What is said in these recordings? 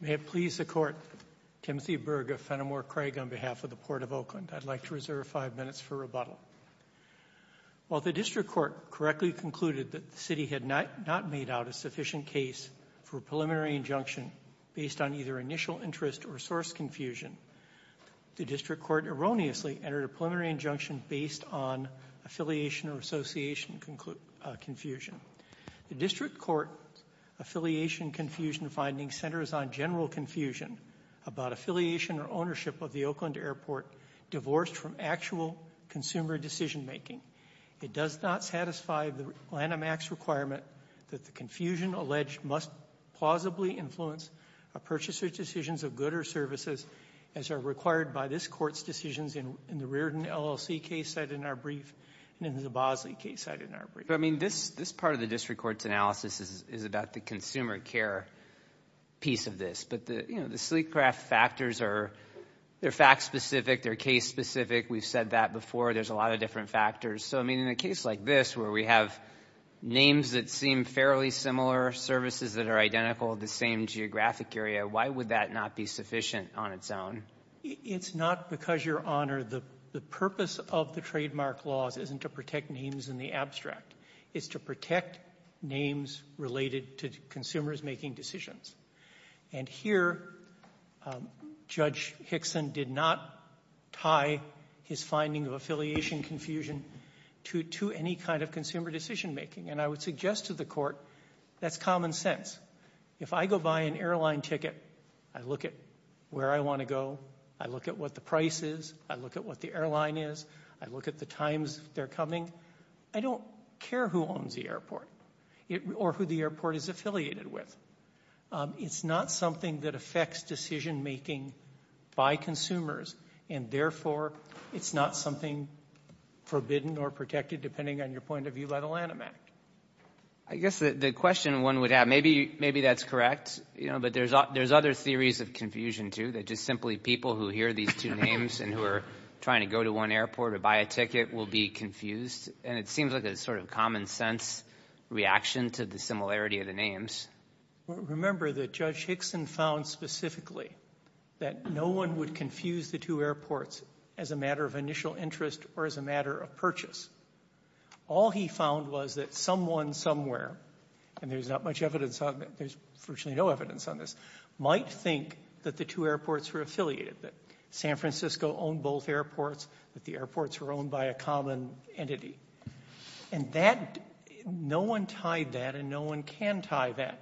May it please the court Timothy Berg of Fenimore Craig on behalf of the Port of Oakland I'd like to reserve five minutes for rebuttal. While the district court correctly concluded that the city had not not made out a sufficient case for preliminary injunction based on either initial interest or source confusion the district court erroneously entered a preliminary injunction based on affiliation or association confusion. The district court affiliation confusion finding centers on general confusion about affiliation or ownership of the Oakland Airport divorced from actual consumer decision-making. It does not satisfy the Lanham Act's requirement that the confusion alleged must plausibly influence a purchaser's decisions of good or services as are required by this court's decisions in the Reardon LLC case set in our brief and in the Bosley case set in our brief. I mean this this part of the district court's analysis is about the consumer care piece of this but the you know the sleek craft factors are they're fact-specific they're case-specific we've said that before there's a lot of different factors so I mean in a case like this where we have names that seem fairly similar services that are identical the same geographic area why would that not be sufficient on its own? It's not because your honor the the purpose of the trademark laws isn't to protect names in the abstract it's to protect names related to consumers making decisions and here Judge Hickson did not tie his finding of affiliation confusion to to any kind of consumer decision-making and I would suggest to the court that's common sense if I go buy an airline ticket I look at where I want to go I look at what the price is I look at what the airline is I look at the times they're coming I don't care who owns the airport or who the airport is affiliated with it's not something that affects decision-making by consumers and therefore it's not something forbidden or protected depending on your point of view by the Lanham Act. I guess the question one would have maybe maybe that's correct you know but there's there's other theories of confusion too that just simply people who hear these two names and who are trying to go to one airport or buy a ticket will be confused and it seems like a sort of common-sense reaction to the similarity of the names. Remember that Judge Hickson found specifically that no one would confuse the two airports as a matter of initial interest or as a matter of purchase. All he found was that someone somewhere and there's not much evidence on there's virtually no evidence on this might think that the two airports were affiliated that San Francisco owned both airports that the airports were owned by a common entity and that no one tied that and no one can tie that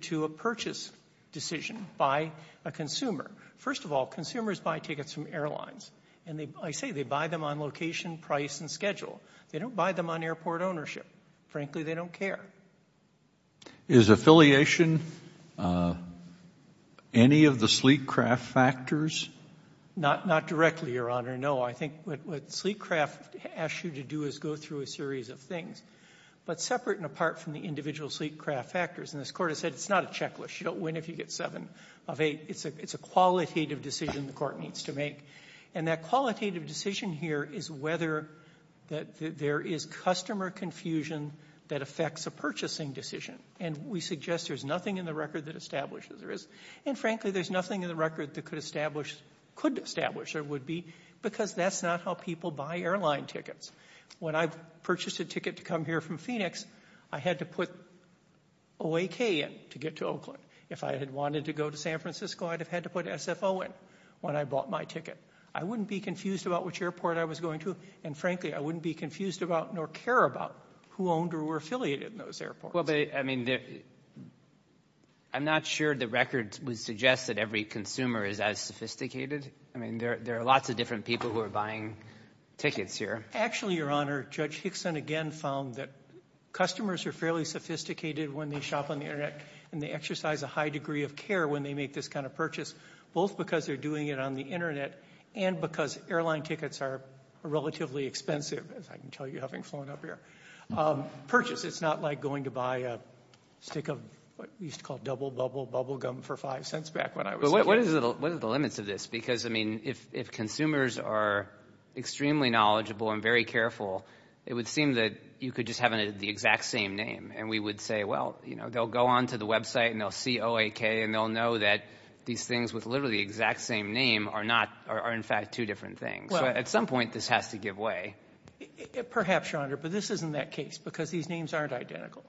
to a purchase decision by a consumer. First of all consumers buy tickets from airlines and they I say they buy them on location price and schedule they don't buy them on airport ownership. Frankly they don't care. Is affiliation any of the sleek craft factors? Not not directly your honor no I think what sleek craft asks you to do is go through a series of things but separate and apart from the individual sleek craft factors and this court has said it's not a checklist you don't win if you get seven of eight it's a it's a qualitative decision the court needs to make and that qualitative decision here is whether that there is customer confusion that affects a purchasing decision and we suggest there's nothing in the record that establishes there is and frankly there's nothing in the record that could establish could establish there would be because that's not how people buy airline tickets. When I've purchased a ticket to come here from Phoenix I had to put OAK in to get to Oakland. If I had wanted to go to San Francisco I'd have had to put SFO in when I bought my ticket. I wouldn't be confused about which airport I was going to and frankly I wouldn't be confused about nor care about who owned or were affiliated in those airports. Well but I mean I'm not sure the record would suggest that every consumer is as sophisticated I mean there are lots of different people who are buying tickets here. Actually your honor Judge Hickson again found that customers are fairly sophisticated when they shop on the internet and they exercise a high degree of care when they make this kind of purchase both because they're doing it on the internet and because airline tickets are relatively expensive as I can tell you having flown up here. Purchase it's not like going to buy a stick of what we used to call double bubble bubble gum for five cents back when I was a kid. What are the limits of this because I mean if consumers are extremely knowledgeable and very careful it would seem that you could just have the exact same name and we would say well you know they'll go on to the website and they'll see OAK and they'll know that these things with literally the exact same name are not are in fact two different things. At some point this has to give way. Perhaps your honor but this isn't that case because these names aren't identical.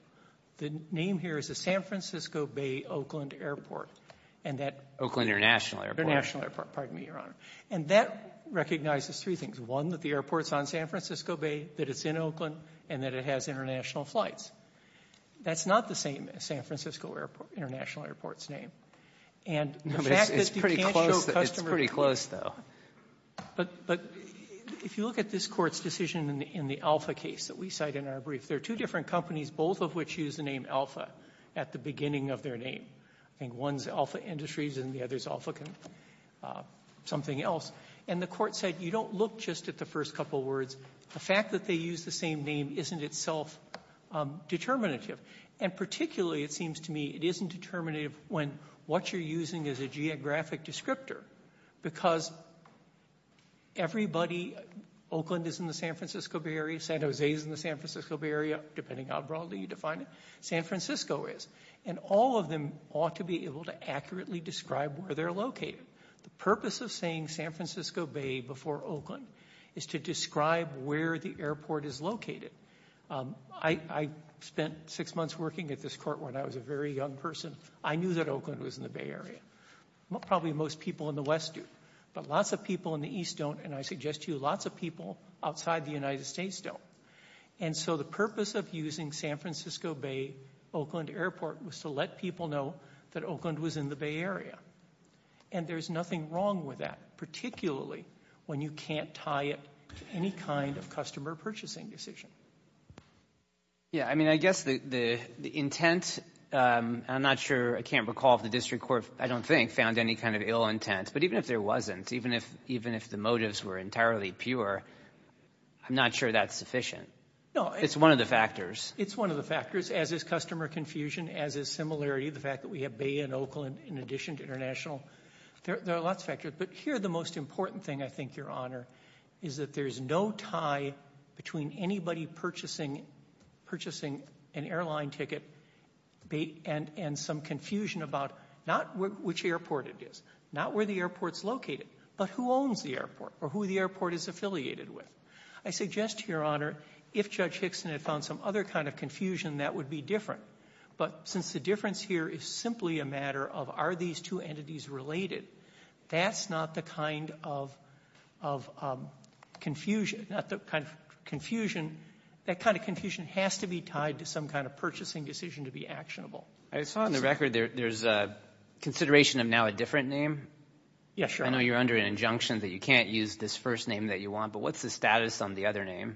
The name here is the San Francisco Bay Oakland Airport and that. Oakland International Airport. International Airport pardon me your honor and that recognizes three things. One that the airports on San Francisco Bay that it's in Oakland and that it has international flights. That's not the same as San Francisco Airport International Airport's name and. It's pretty close though. But if you look at this Court's decision in the Alpha case that we cite in our brief there are two different companies both of which use the name Alpha at the beginning of their name. I think one's Alpha Industries and the other's Alpha something else. And the Court said you don't look just at the first couple words. The fact that they use the same name isn't itself determinative. And particularly it seems to me it isn't determinative when what you're using is a geographic descriptor. Because. Everybody. Oakland is in the San Francisco Bay area. San Jose is in the San Francisco Bay area depending how broadly you define it. San Francisco is. And all of them ought to be able to accurately describe where they're located. The purpose of saying San Francisco Bay before Oakland is to describe where the airport is located. I spent six months working at this court when I was a very young person. I knew that Oakland was in the Bay Area. Probably most people in the West do. But lots of people in the East don't. And I suggest to you lots of people outside the United States don't. And so the purpose of using San Francisco Bay Oakland Airport was to let people know that Oakland was in the Bay Area. And there's nothing wrong with that particularly when you can't tie it to any kind of customer purchasing decision. Yeah. I mean I guess the intent. I'm not sure I can't recall if the district court I don't think found any kind of ill intent. But even if there wasn't even if even if the motives were entirely pure. I'm not sure that's sufficient. It's one of the factors. It's one of the factors as is customer confusion as is similarity the fact that we have Bay and Oakland in addition to international. There are lots of factors. But here the most important thing I think Your Honor is that there is no tie between anybody purchasing an airline ticket and some confusion about not which airport it is not where the airport is located but who owns the airport or who the airport is affiliated with. I suggest to Your Honor if Judge Hickson had found some other kind of confusion that would be different. But since the difference here is simply a matter of are these two entities related that's not the kind of confusion that kind of confusion has to be tied to some kind of purchasing decision to be actionable. I saw on the record there's a consideration of now a different name. Yes, Your Honor. I know you're under an injunction that you can't use this first name that you want. But what's the status on the other name?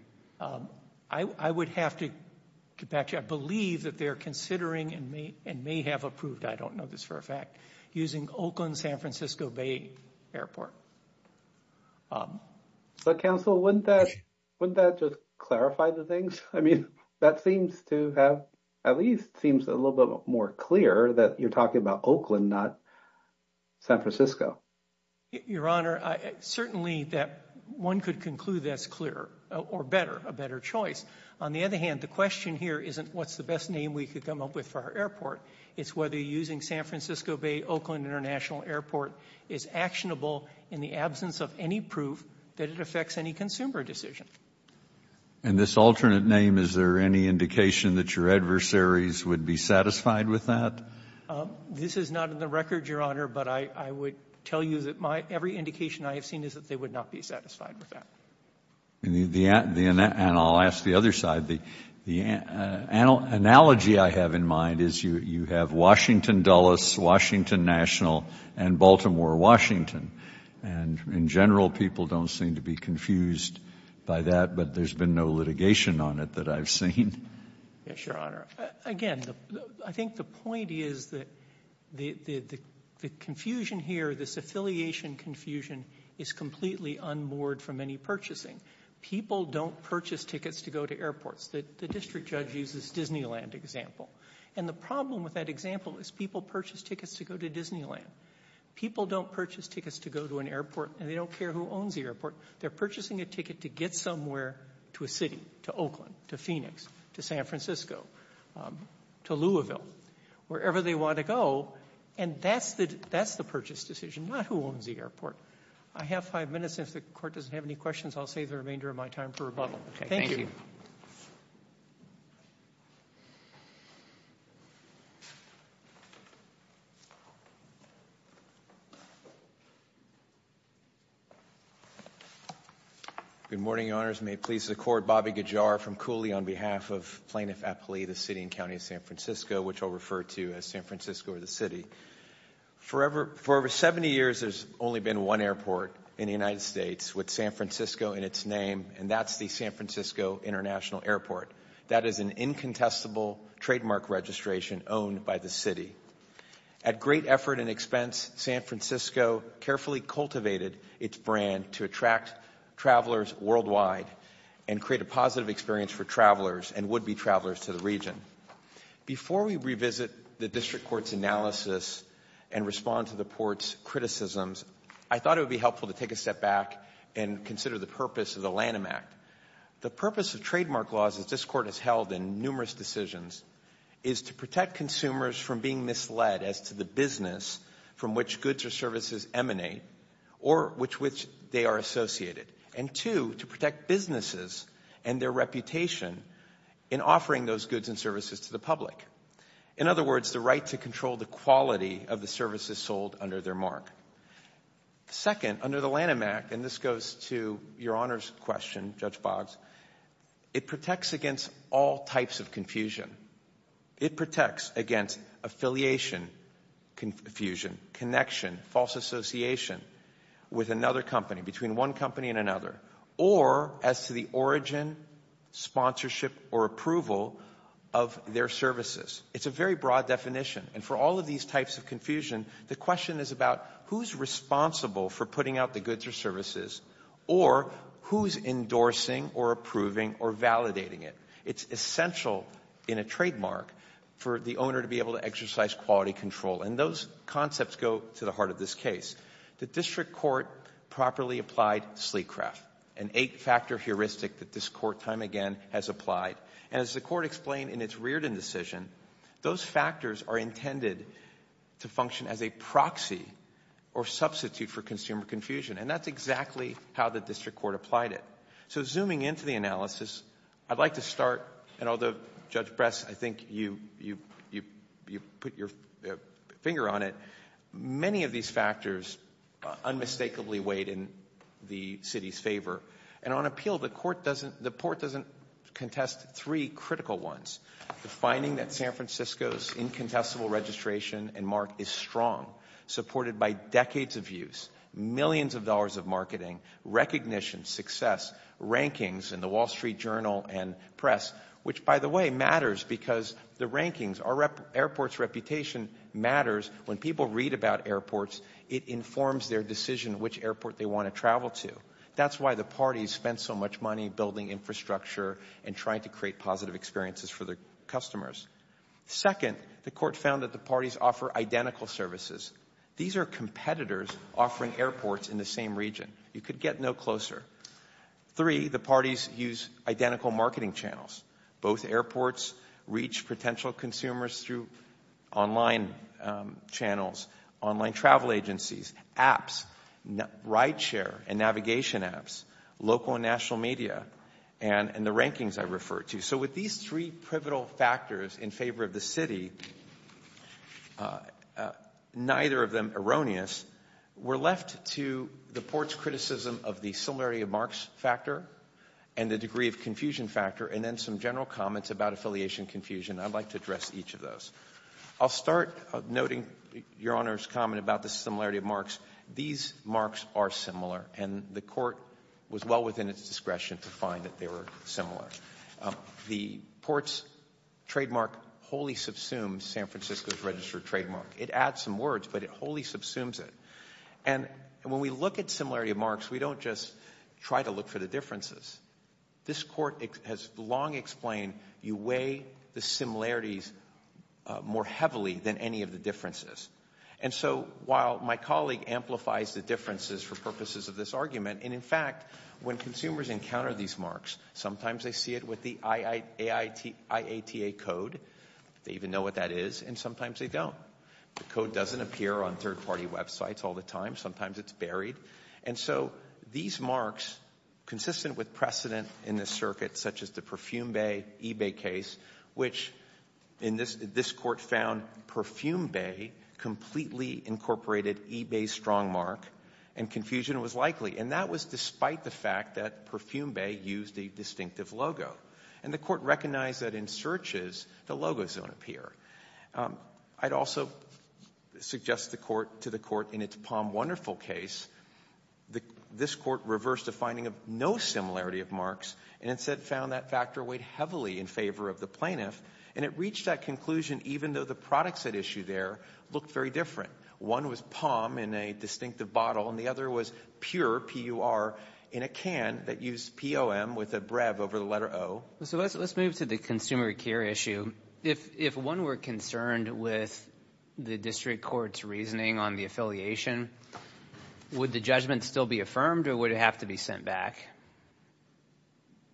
I would have to get back to you. I believe that they're considering and may have approved I don't know this for a fact using Oakland San Francisco Bay Airport. So counsel wouldn't that wouldn't that just clarify the things? I mean that seems to have at least seems a little bit more clear that you're talking about Oakland not San Francisco. Your Honor, certainly that one could conclude that's clearer or better a better choice. On the other hand the question here isn't what's the best name we could come up with for our airport. It's whether using San Francisco Bay Oakland International Airport is actionable in the absence of any proof that it affects any consumer decision. And this alternate name is there any indication that your adversaries would be satisfied with that? This is not in the record, Your Honor, but I would tell you that my every indication I have seen is that they would not be satisfied with that. And I'll ask the other side. The analogy I have in mind is you have Washington Dulles, Washington National, and Baltimore Washington. And in general people don't seem to be confused by that, but there's been no litigation on it that I've seen. Yes, Your Honor. Again, I think the point is that the confusion here, this affiliation confusion is completely unmoored from any purchasing. People don't purchase tickets to go to airports. The district judge uses Disneyland example. And the problem with that example is people purchase tickets to go to Disneyland. People don't purchase tickets to go to an airport and they don't care who owns the airport. They're purchasing a ticket to get somewhere to a city, to Oakland, to Phoenix, to San Francisco, to Louisville, wherever they want to go. And that's the purchase decision, not who owns the airport. I have five minutes. If the Court doesn't have any questions, I'll save the remainder of my time for rebuttal. Thank you. Good morning, Your Honors. May it please the Court, Bobby Gajar from Cooley on behalf of the Plaintiff's Affiliate of the City and County of San Francisco, which I'll refer to as San Francisco or the city. For over 70 years, there's only been one airport in the United States with San Francisco in its name, and that's the San Francisco International Airport. That is an incontestable trademark registration owned by the city. At great effort and expense, San Francisco carefully cultivated its brand to attract travelers worldwide and create a positive experience for travelers and would-be travelers to the region. Before we revisit the District Court's analysis and respond to the Court's criticisms, I thought it would be helpful to take a step back and consider the purpose of the Lanham Act. The purpose of trademark laws, as this Court has held in numerous decisions, is to protect consumers from being misled as to the business from which goods or services emanate or with which they are associated, and two, to protect businesses and their reputation in offering those goods and services to the public. In other words, the right to control the quality of the services sold under their mark. Second, under the Lanham Act, and this goes to Your Honors' question, Judge Boggs, it protects against all types of confusion. It protects against affiliation confusion, connection, false association with another company, between one company and another, or as to the origin, sponsorship, or approval of their services. It's a very broad definition, and for all of these types of confusion, the question is about who's responsible for putting out the goods or services or who's endorsing or approving or validating it. It's essential in a trademark for the owner to be able to exercise quality control, and those concepts go to the heart of this case. The District Court properly applied Sleecraft, an eight-factor heuristic that this Court, time again, has applied, and as the Court explained in its Reardon decision, those factors are intended to function as a proxy or substitute for consumer confusion, and that's exactly how the District Court applied it. So, zooming into the analysis, I'd like to start, and although, Judge Bress, I think you put your finger on it, many of these factors unmistakably weighed in the City's favor, and on appeal, the Court doesn't, the Court doesn't contest three critical ones. The finding that San Francisco's incontestable registration and mark is strong, supported by decades of use, millions of dollars of marketing, recognition, success, rankings in the Wall Street Journal and press, which, by the way, matters because the rankings, our airport's reputation matters. When people read about airports, it informs their decision which airport they want to travel to. That's why the parties spent so much money building infrastructure and trying to create positive experiences for their customers. Second, the Court found that the parties offer identical services. These are competitors offering airports in the same region. You could get no closer. Three, the parties use identical marketing channels. Both airports reach potential consumers through online channels, online travel agencies, apps, ride share and navigation apps, local and national media, and the rankings I referred to. So with these three pivotal factors in favor of the City, neither of them erroneous, we're left to the Court's criticism of the similarity of marks factor and the degree of confusion factor, and then some general comments about affiliation confusion. I'd like to address each of those. I'll start noting Your Honor's comment about the similarity of marks. These marks are similar, and the Court was well within its discretion to find that they were similar. The Port's trademark wholly subsumes San Francisco's registered trademark. It adds some words, but it wholly subsumes it. And when we look at similarity of marks, we don't just try to look for the differences. This Court has long explained you weigh the similarities more heavily than any of the differences. And so while my colleague amplifies the differences for purposes of this argument, and in fact, when consumers encounter these marks, sometimes they see it with the IATA code. They even know what that is, and sometimes they don't. The code doesn't appear on third-party websites all the time. Sometimes it's buried. And so these marks, consistent with precedent in this circuit, such as the Perfume Bay eBay case, which this Court found Perfume Bay completely incorporated eBay's strong mark, and confusion was likely. And that was despite the fact that Perfume Bay used a distinctive logo. And the Court recognized that in searches, the logos don't appear. I'd also suggest to the Court, in its Palm Wonderful case, this Court reversed a finding of no similarity of marks, and instead found that factor weighed heavily in favor of the plaintiff. And it reached that conclusion even though the products at issue there look very different. One was palm in a distinctive bottle, and the other was pure, P-U-R, in a can that used P-O-M with a brev over the letter O. So let's move to the consumer care issue. If one were concerned with the district court's reasoning on the affiliation, would the judgment still be affirmed, or would it have to be sent back?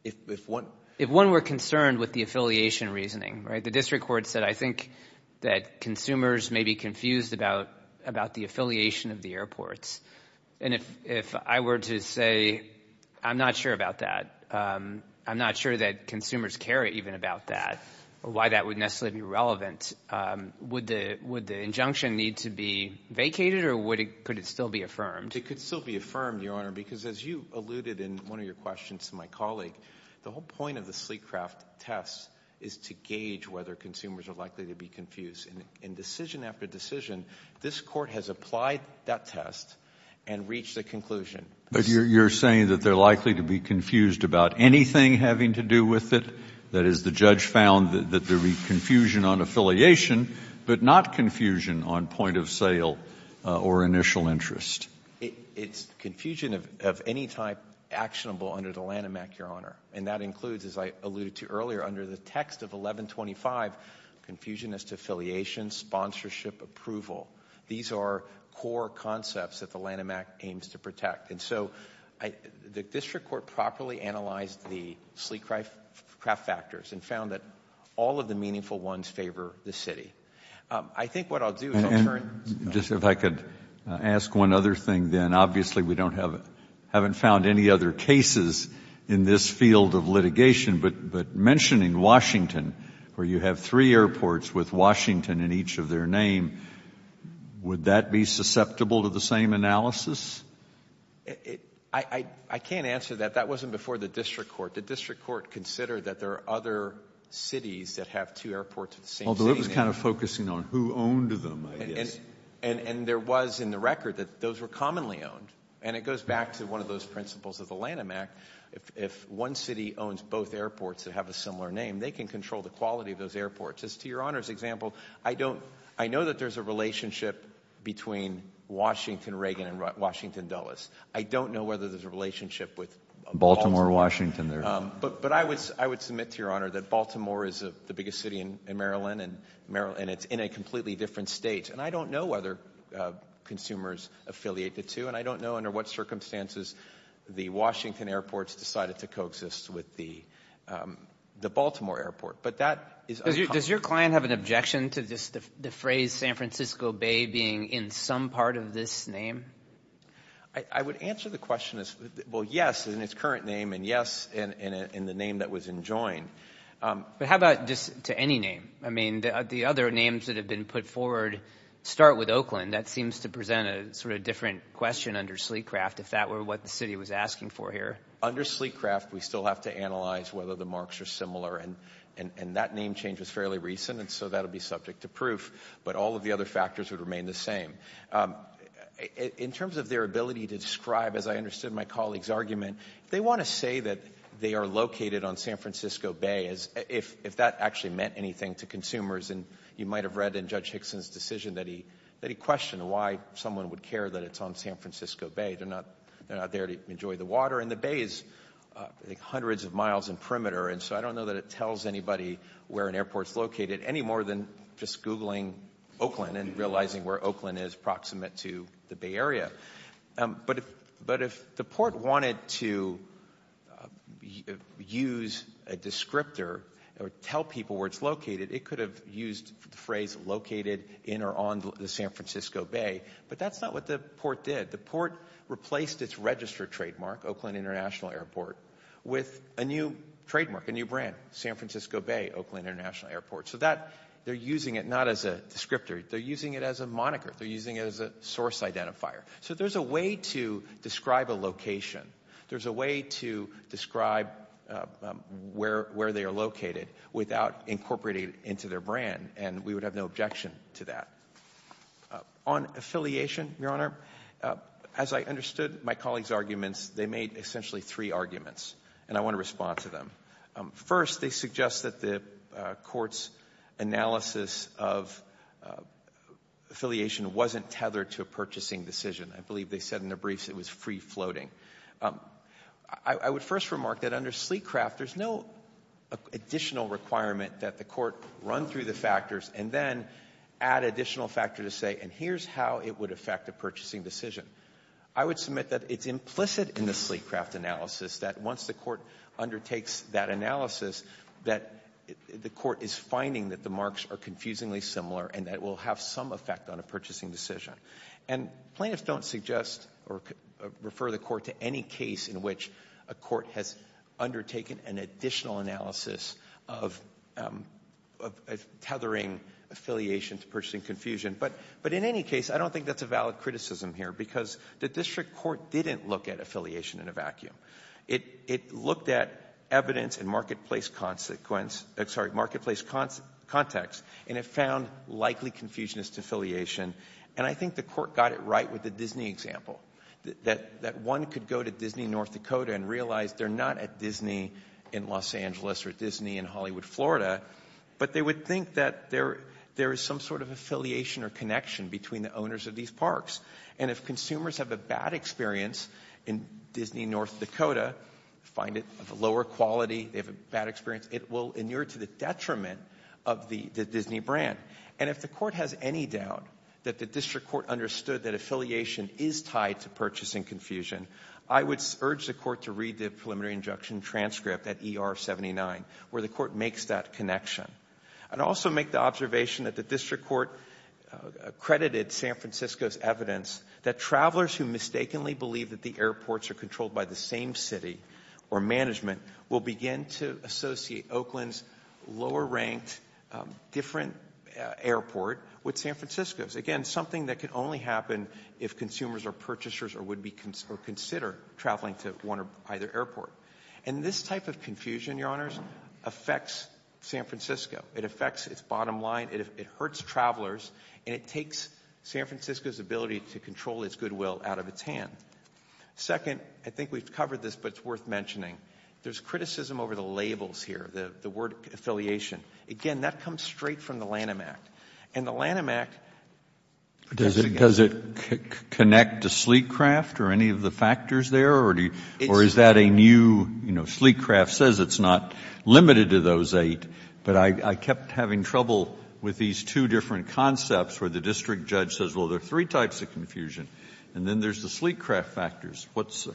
If one were concerned with the affiliation reasoning, right? The district court said, I think that consumers may be confused about the affiliation of the airports. And if I were to say, I'm not sure about that, I'm not sure that consumers care even about that, or why that would necessarily be relevant, would the injunction need to be vacated, or could it still be affirmed? It could still be affirmed, Your Honor, because as you alluded in one of your questions to my colleague, the whole point of the Sleecraft test is to gauge whether consumers are likely to be confused. In decision after decision, this Court has applied that test and reached a conclusion. But you're saying that they're likely to be confused about anything having to do with it? That is, the judge found that there would be confusion on affiliation, but not confusion on point of sale or initial interest. It's confusion of any type actionable under the Lanham Act, Your Honor. And that includes, as I alluded to earlier, under the text of 1125, confusion as to affiliation, sponsorship, approval. These are core concepts that the Lanham Act aims to protect. And so the district court properly analyzed the Sleecraft factors and found that all of the meaningful ones favor the City. I think what I'll do is I'll turn to the Court. If I could ask one other thing, then. Obviously, we haven't found any other cases in this field of litigation, but mentioning Washington, where you have three airports with Washington in each of their names, would that be susceptible to the same analysis? I can't answer that. That wasn't before the district court. The district court considered that there are other cities that have two airports of the same name. Although it was kind of focusing on who owned them, I guess. And there was in the record that those were commonly owned. And it goes back to one of those principles of the Lanham Act. If one city owns both airports that have a similar name, they can control the quality of those airports. As to Your Honor's example, I know that there's a relationship between Washington, Reagan, and Washington, Dulles. I don't know whether there's a relationship with Baltimore, Washington. But I would submit to Your Honor that Baltimore is the biggest city in Maryland, and it's in a completely different state. And I don't know whether consumers affiliate the two, and I don't know under what circumstances the Washington airports decided to coexist with the Baltimore airport. But that is uncommon. Does your client have an objection to the phrase San Francisco Bay being in some part of this name? I would answer the question as, well, yes, in its current name, and yes, in the name that was enjoined. But how about just to any name? I mean, the other names that have been put forward start with Oakland. That seems to present a sort of different question under Sleecraft if that were what the city was asking for here. Under Sleecraft, we still have to analyze whether the marks are similar. And that name change was fairly recent, and so that will be subject to proof. But all of the other factors would remain the same. In terms of their ability to describe, as I understood my colleague's argument, if they want to say that they are located on San Francisco Bay, if that actually meant anything to consumers, and you might have read in Judge Hickson's decision that he questioned why someone would care that it's on San Francisco Bay. They're not there to enjoy the water. And the bay is, I think, hundreds of miles in perimeter. And so I don't know that it tells anybody where an airport is located any more than just Googling Oakland and realizing where Oakland is proximate to the Bay Area. But if the port wanted to use a descriptor or tell people where it's located, it could have used the phrase located in or on the San Francisco Bay. But that's not what the port did. The port replaced its registered trademark, Oakland International Airport, with a new trademark, a new brand, San Francisco Bay, Oakland International Airport. So that they're using it not as a descriptor. They're using it as a moniker. They're using it as a source identifier. So there's a way to describe a location. There's a way to describe where they are located without incorporating it into their brand. And we would have no objection to that. On affiliation, Your Honor, as I understood my colleagues' arguments, they made essentially three arguments. And I want to respond to them. First, they suggest that the court's analysis of affiliation wasn't tethered to a purchasing decision. I believe they said in their briefs it was free-floating. I would first remark that under Sleecraft, there's no additional requirement that the court run through the factors and then add additional factor to say, and here's how it would affect a purchasing decision. I would submit that it's implicit in the Sleecraft analysis that once the court undertakes that analysis, that the court is finding that the marks are confusingly similar and that it will have some effect on a purchasing decision. And plaintiffs don't suggest or refer the court to any case in which a court has undertaken an additional analysis of tethering affiliation to purchasing confusion. But in any case, I don't think that's a valid criticism here, because the district court didn't look at affiliation in a vacuum. It looked at evidence and marketplace consequence – sorry, marketplace context, and it found likely confusionist affiliation. And I think the court got it right with the Disney example, that one could go to Disney, North Dakota and realize they're not at Disney in Los Angeles or Disney in Hollywood, Florida, but they would think that there is some sort of affiliation or connection between the owners of these marks. And if consumers have a bad experience in Disney, North Dakota, find it of a lower quality, they have a bad experience, it will inure to the detriment of the Disney brand. And if the court has any doubt that the district court understood that affiliation is tied to purchasing confusion, I would urge the court to read the preliminary injunction transcript at ER 79, where the court makes that connection, and also make the observation that the district court accredited San Francisco's evidence that travelers who mistakenly believe that the airports are controlled by the same city or management will begin to associate Oakland's lower-ranked different airport with San Francisco's. Again, something that can only happen if consumers or purchasers would consider traveling to one or either airport. And this type of confusion, Your Honors, affects San Francisco. It affects its bottom line. It hurts travelers. And it takes San Francisco's ability to control its goodwill out of its hand. Second, I think we've covered this, but it's worth mentioning. There's criticism over the labels here, the word affiliation. Again, that comes straight from the Lanham Act. And the Lanham Act doesn't get it. Does it connect to Sleek Craft or any of the factors there? Or is that a new, you know, in trouble with these two different concepts where the district judge says, well, there are three types of confusion, and then there's the Sleek Craft factors. What's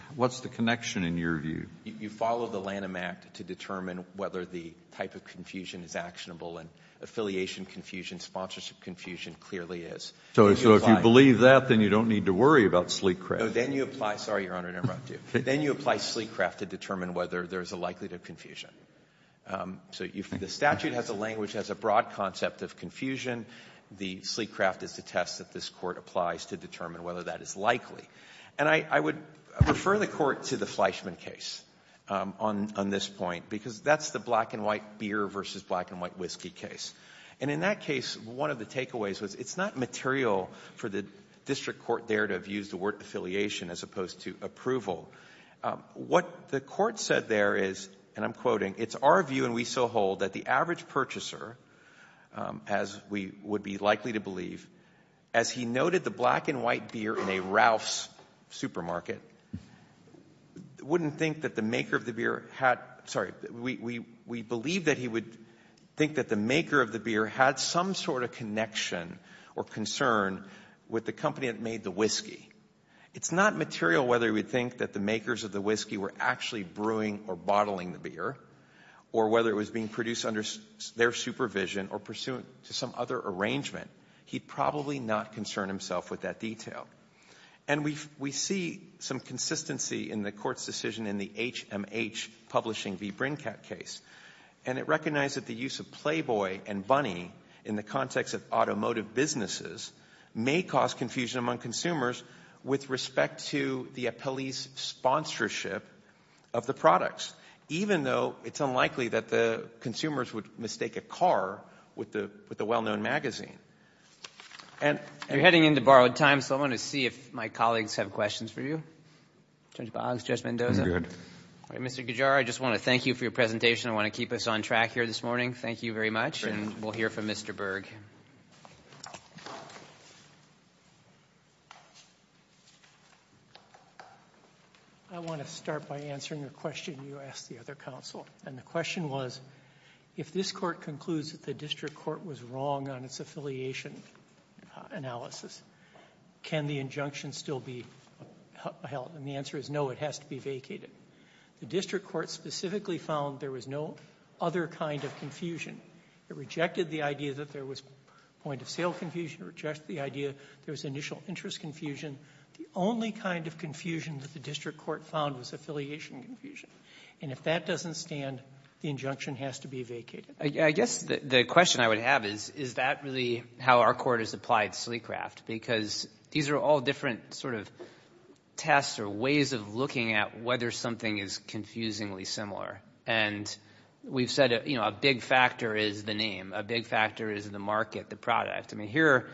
the connection, in your view? You follow the Lanham Act to determine whether the type of confusion is actionable. And affiliation confusion, sponsorship confusion, clearly is. So if you believe that, then you don't need to worry about Sleek Craft. No. Then you apply to determine whether there's a likelihood of confusion. So the statute has a language, has a broad concept of confusion. The Sleek Craft is the test that this Court applies to determine whether that is likely. And I would refer the Court to the Fleischman case on this point, because that's the black and white beer versus black and white whiskey case. And in that case, one of the takeaways was it's not material for the district court there to have used the word affiliation as opposed to approval. What the Court said there is, and I'm quoting, it's our view and we so hold that the average purchaser, as we would be likely to believe, as he noted the black and white beer in a Ralph's supermarket wouldn't think that the maker of the beer had, sorry, we believe that he would think that the maker of the beer had some sort of connection or concern with the company that made the whiskey. It's not material whether we think that the makers of the whiskey were actually brewing or bottling the beer, or whether it was being produced under their supervision or pursuant to some other arrangement. He'd probably not concern himself with that detail. And we see some consistency in the Court's decision in the HMH publishing v. Brincat case, and it recognized that the use of playboy and bunny in the context of automotive businesses may cause confusion among consumers with respect to the police sponsorship of the products, even though it's unlikely that the consumers would mistake a car with a well-known magazine. You're heading into borrowed time, so I want to see if my colleagues have questions for you. Judge Boggs, Judge Mendoza. I'm good. Mr. Gujar, I just want to thank you for your presentation. I want to keep us on track here this morning. Thank you very much, and we'll hear from Mr. Berg. Thank you. I want to start by answering a question you asked the other counsel, and the question was if this Court concludes that the District Court was wrong on its affiliation analysis, can the injunction still be held? And the answer is no, it has to be vacated. The District Court specifically found there was no other kind of confusion. It rejected the idea that there was point-of-sale confusion, it rejected the idea that there was initial interest confusion. The only kind of confusion that the District Court found was affiliation confusion, and if that doesn't stand, the injunction has to be vacated. I guess the question I would have is, is that really how our Court has applied Sleecraft? Because these are all different sort of tests or ways of looking at whether something is confusingly similar. And we've said, you know, a big factor is the name, a big factor is the market, the product. I mean, here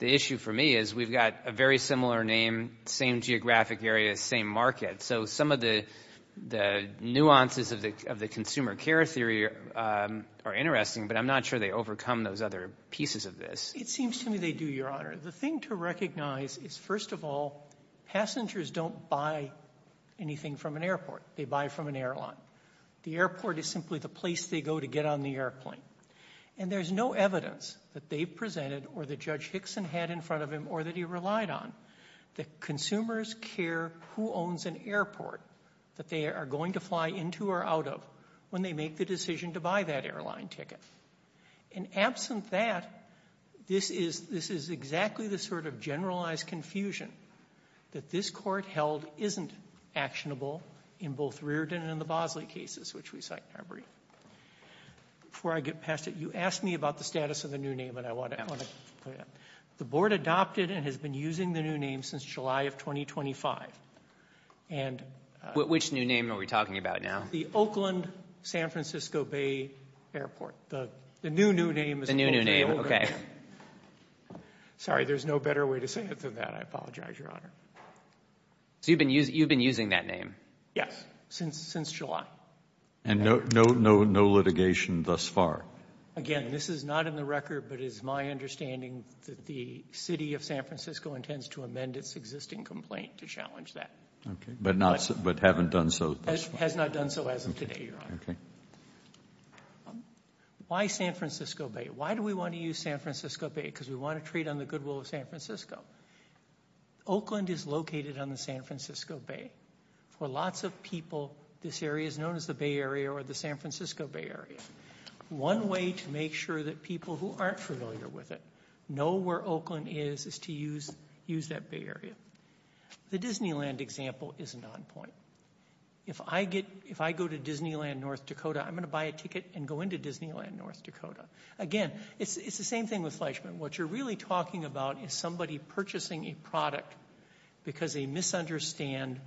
the issue for me is we've got a very similar name, same geographic area, same market. So some of the nuances of the consumer care theory are interesting, but I'm not sure they overcome those other pieces of this. It seems to me they do, Your Honor. The thing to recognize is, first of all, passengers don't buy anything from an airport, they buy from an airline. The airport is simply the place they go to get on the airplane. And there's no evidence that they've presented or that Judge Hickson had in front of him or that he relied on that consumers care who owns an airport that they are going to fly into or out of when they make the decision to buy that airline ticket. And absent that, this is exactly the sort of generalized confusion that this Court held isn't actionable in both Reardon and the Bosley cases, which we cite in our brief. Before I get past it, you asked me about the status of the new name, and I want to put it up. The Board adopted and has been using the new name since July of 2025. Which new name are we talking about now? The Oakland-San Francisco Bay Airport. The new new name. The new new name, okay. Sorry, there's no better way to say it than that. I apologize. Your Honor. So you've been using that name? Yes, since July. And no litigation thus far? Again, this is not in the record, but it is my understanding that the City of San Francisco intends to amend its existing complaint to challenge that. Okay, but not, but haven't done so thus far? Has not done so as of today, Your Honor. Okay. Why San Francisco Bay? Why do we want to use San Francisco Bay? Because we want to trade on the goodwill of San Francisco. Oakland is located on the San Francisco Bay. For lots of people, this area is known as the Bay Area or the San Francisco Bay Area. One way to make sure that people who aren't familiar with it know where Oakland is, is to use that Bay Area. The Disneyland example isn't on point. If I go to Disneyland, North Dakota, I'm going to buy a ticket and go into Disneyland, North Dakota. Again, it's the same thing with Fleischman. What you're really talking about is somebody purchasing a product because they misunderstand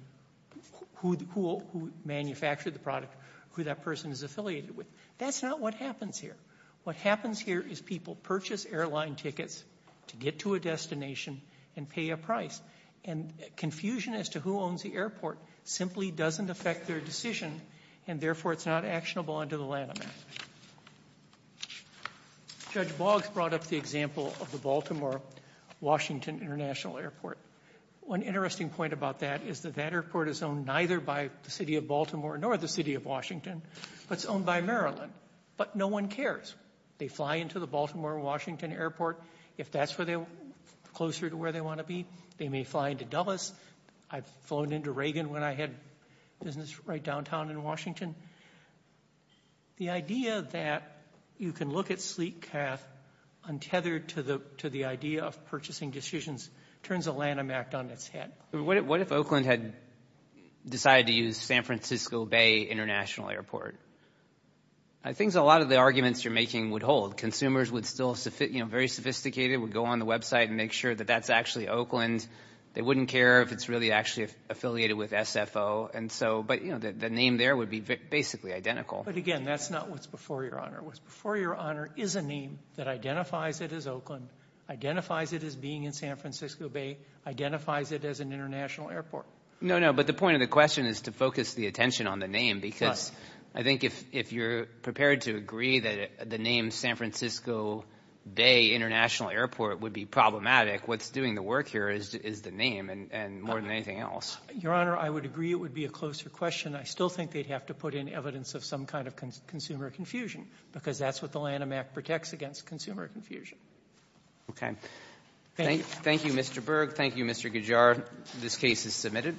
who manufactured the product, who that person is affiliated with. That's not what happens here. What happens here is people purchase airline tickets to get to a destination and pay a price. And confusion as to who owns the airport simply doesn't affect their decision, and therefore it's not actionable under the Lanham Act. Judge Boggs brought up the example of the Baltimore-Washington International Airport. One interesting point about that is that that airport is owned neither by the City of Baltimore nor the City of Washington, but it's owned by Maryland. But no one cares. They fly into the Baltimore-Washington Airport. If that's where they're closer to where they want to be, they may fly into Dulles. I've flown into downtown in Washington. The idea that you can look at Sleetcath untethered to the idea of purchasing decisions turns the Lanham Act on its head. What if Oakland had decided to use San Francisco Bay International Airport? I think a lot of the arguments you're making would hold. Consumers would still, you know, very sophisticated, would go on the website and make sure that that's actually Oakland. They wouldn't care if it's really actually affiliated with SFO. But the name there would be basically identical. But again, that's not what's before your honor. What's before your honor is a name that identifies it as Oakland, identifies it as being in San Francisco Bay, identifies it as an international airport. No, no, but the point of the question is to focus the attention on the name because I think if you're prepared to agree that the name San Francisco Bay International Airport would be problematic, what's doing the work here is the name and more than anything else. Your honor, I would agree it would be a closer question. I still think they'd have to put in evidence of some kind of consumer confusion because that's what the Lanham Act protects against, consumer confusion. Okay. Thank you, Mr. Berg. Thank you, Mr. Gujar. This case is submitted.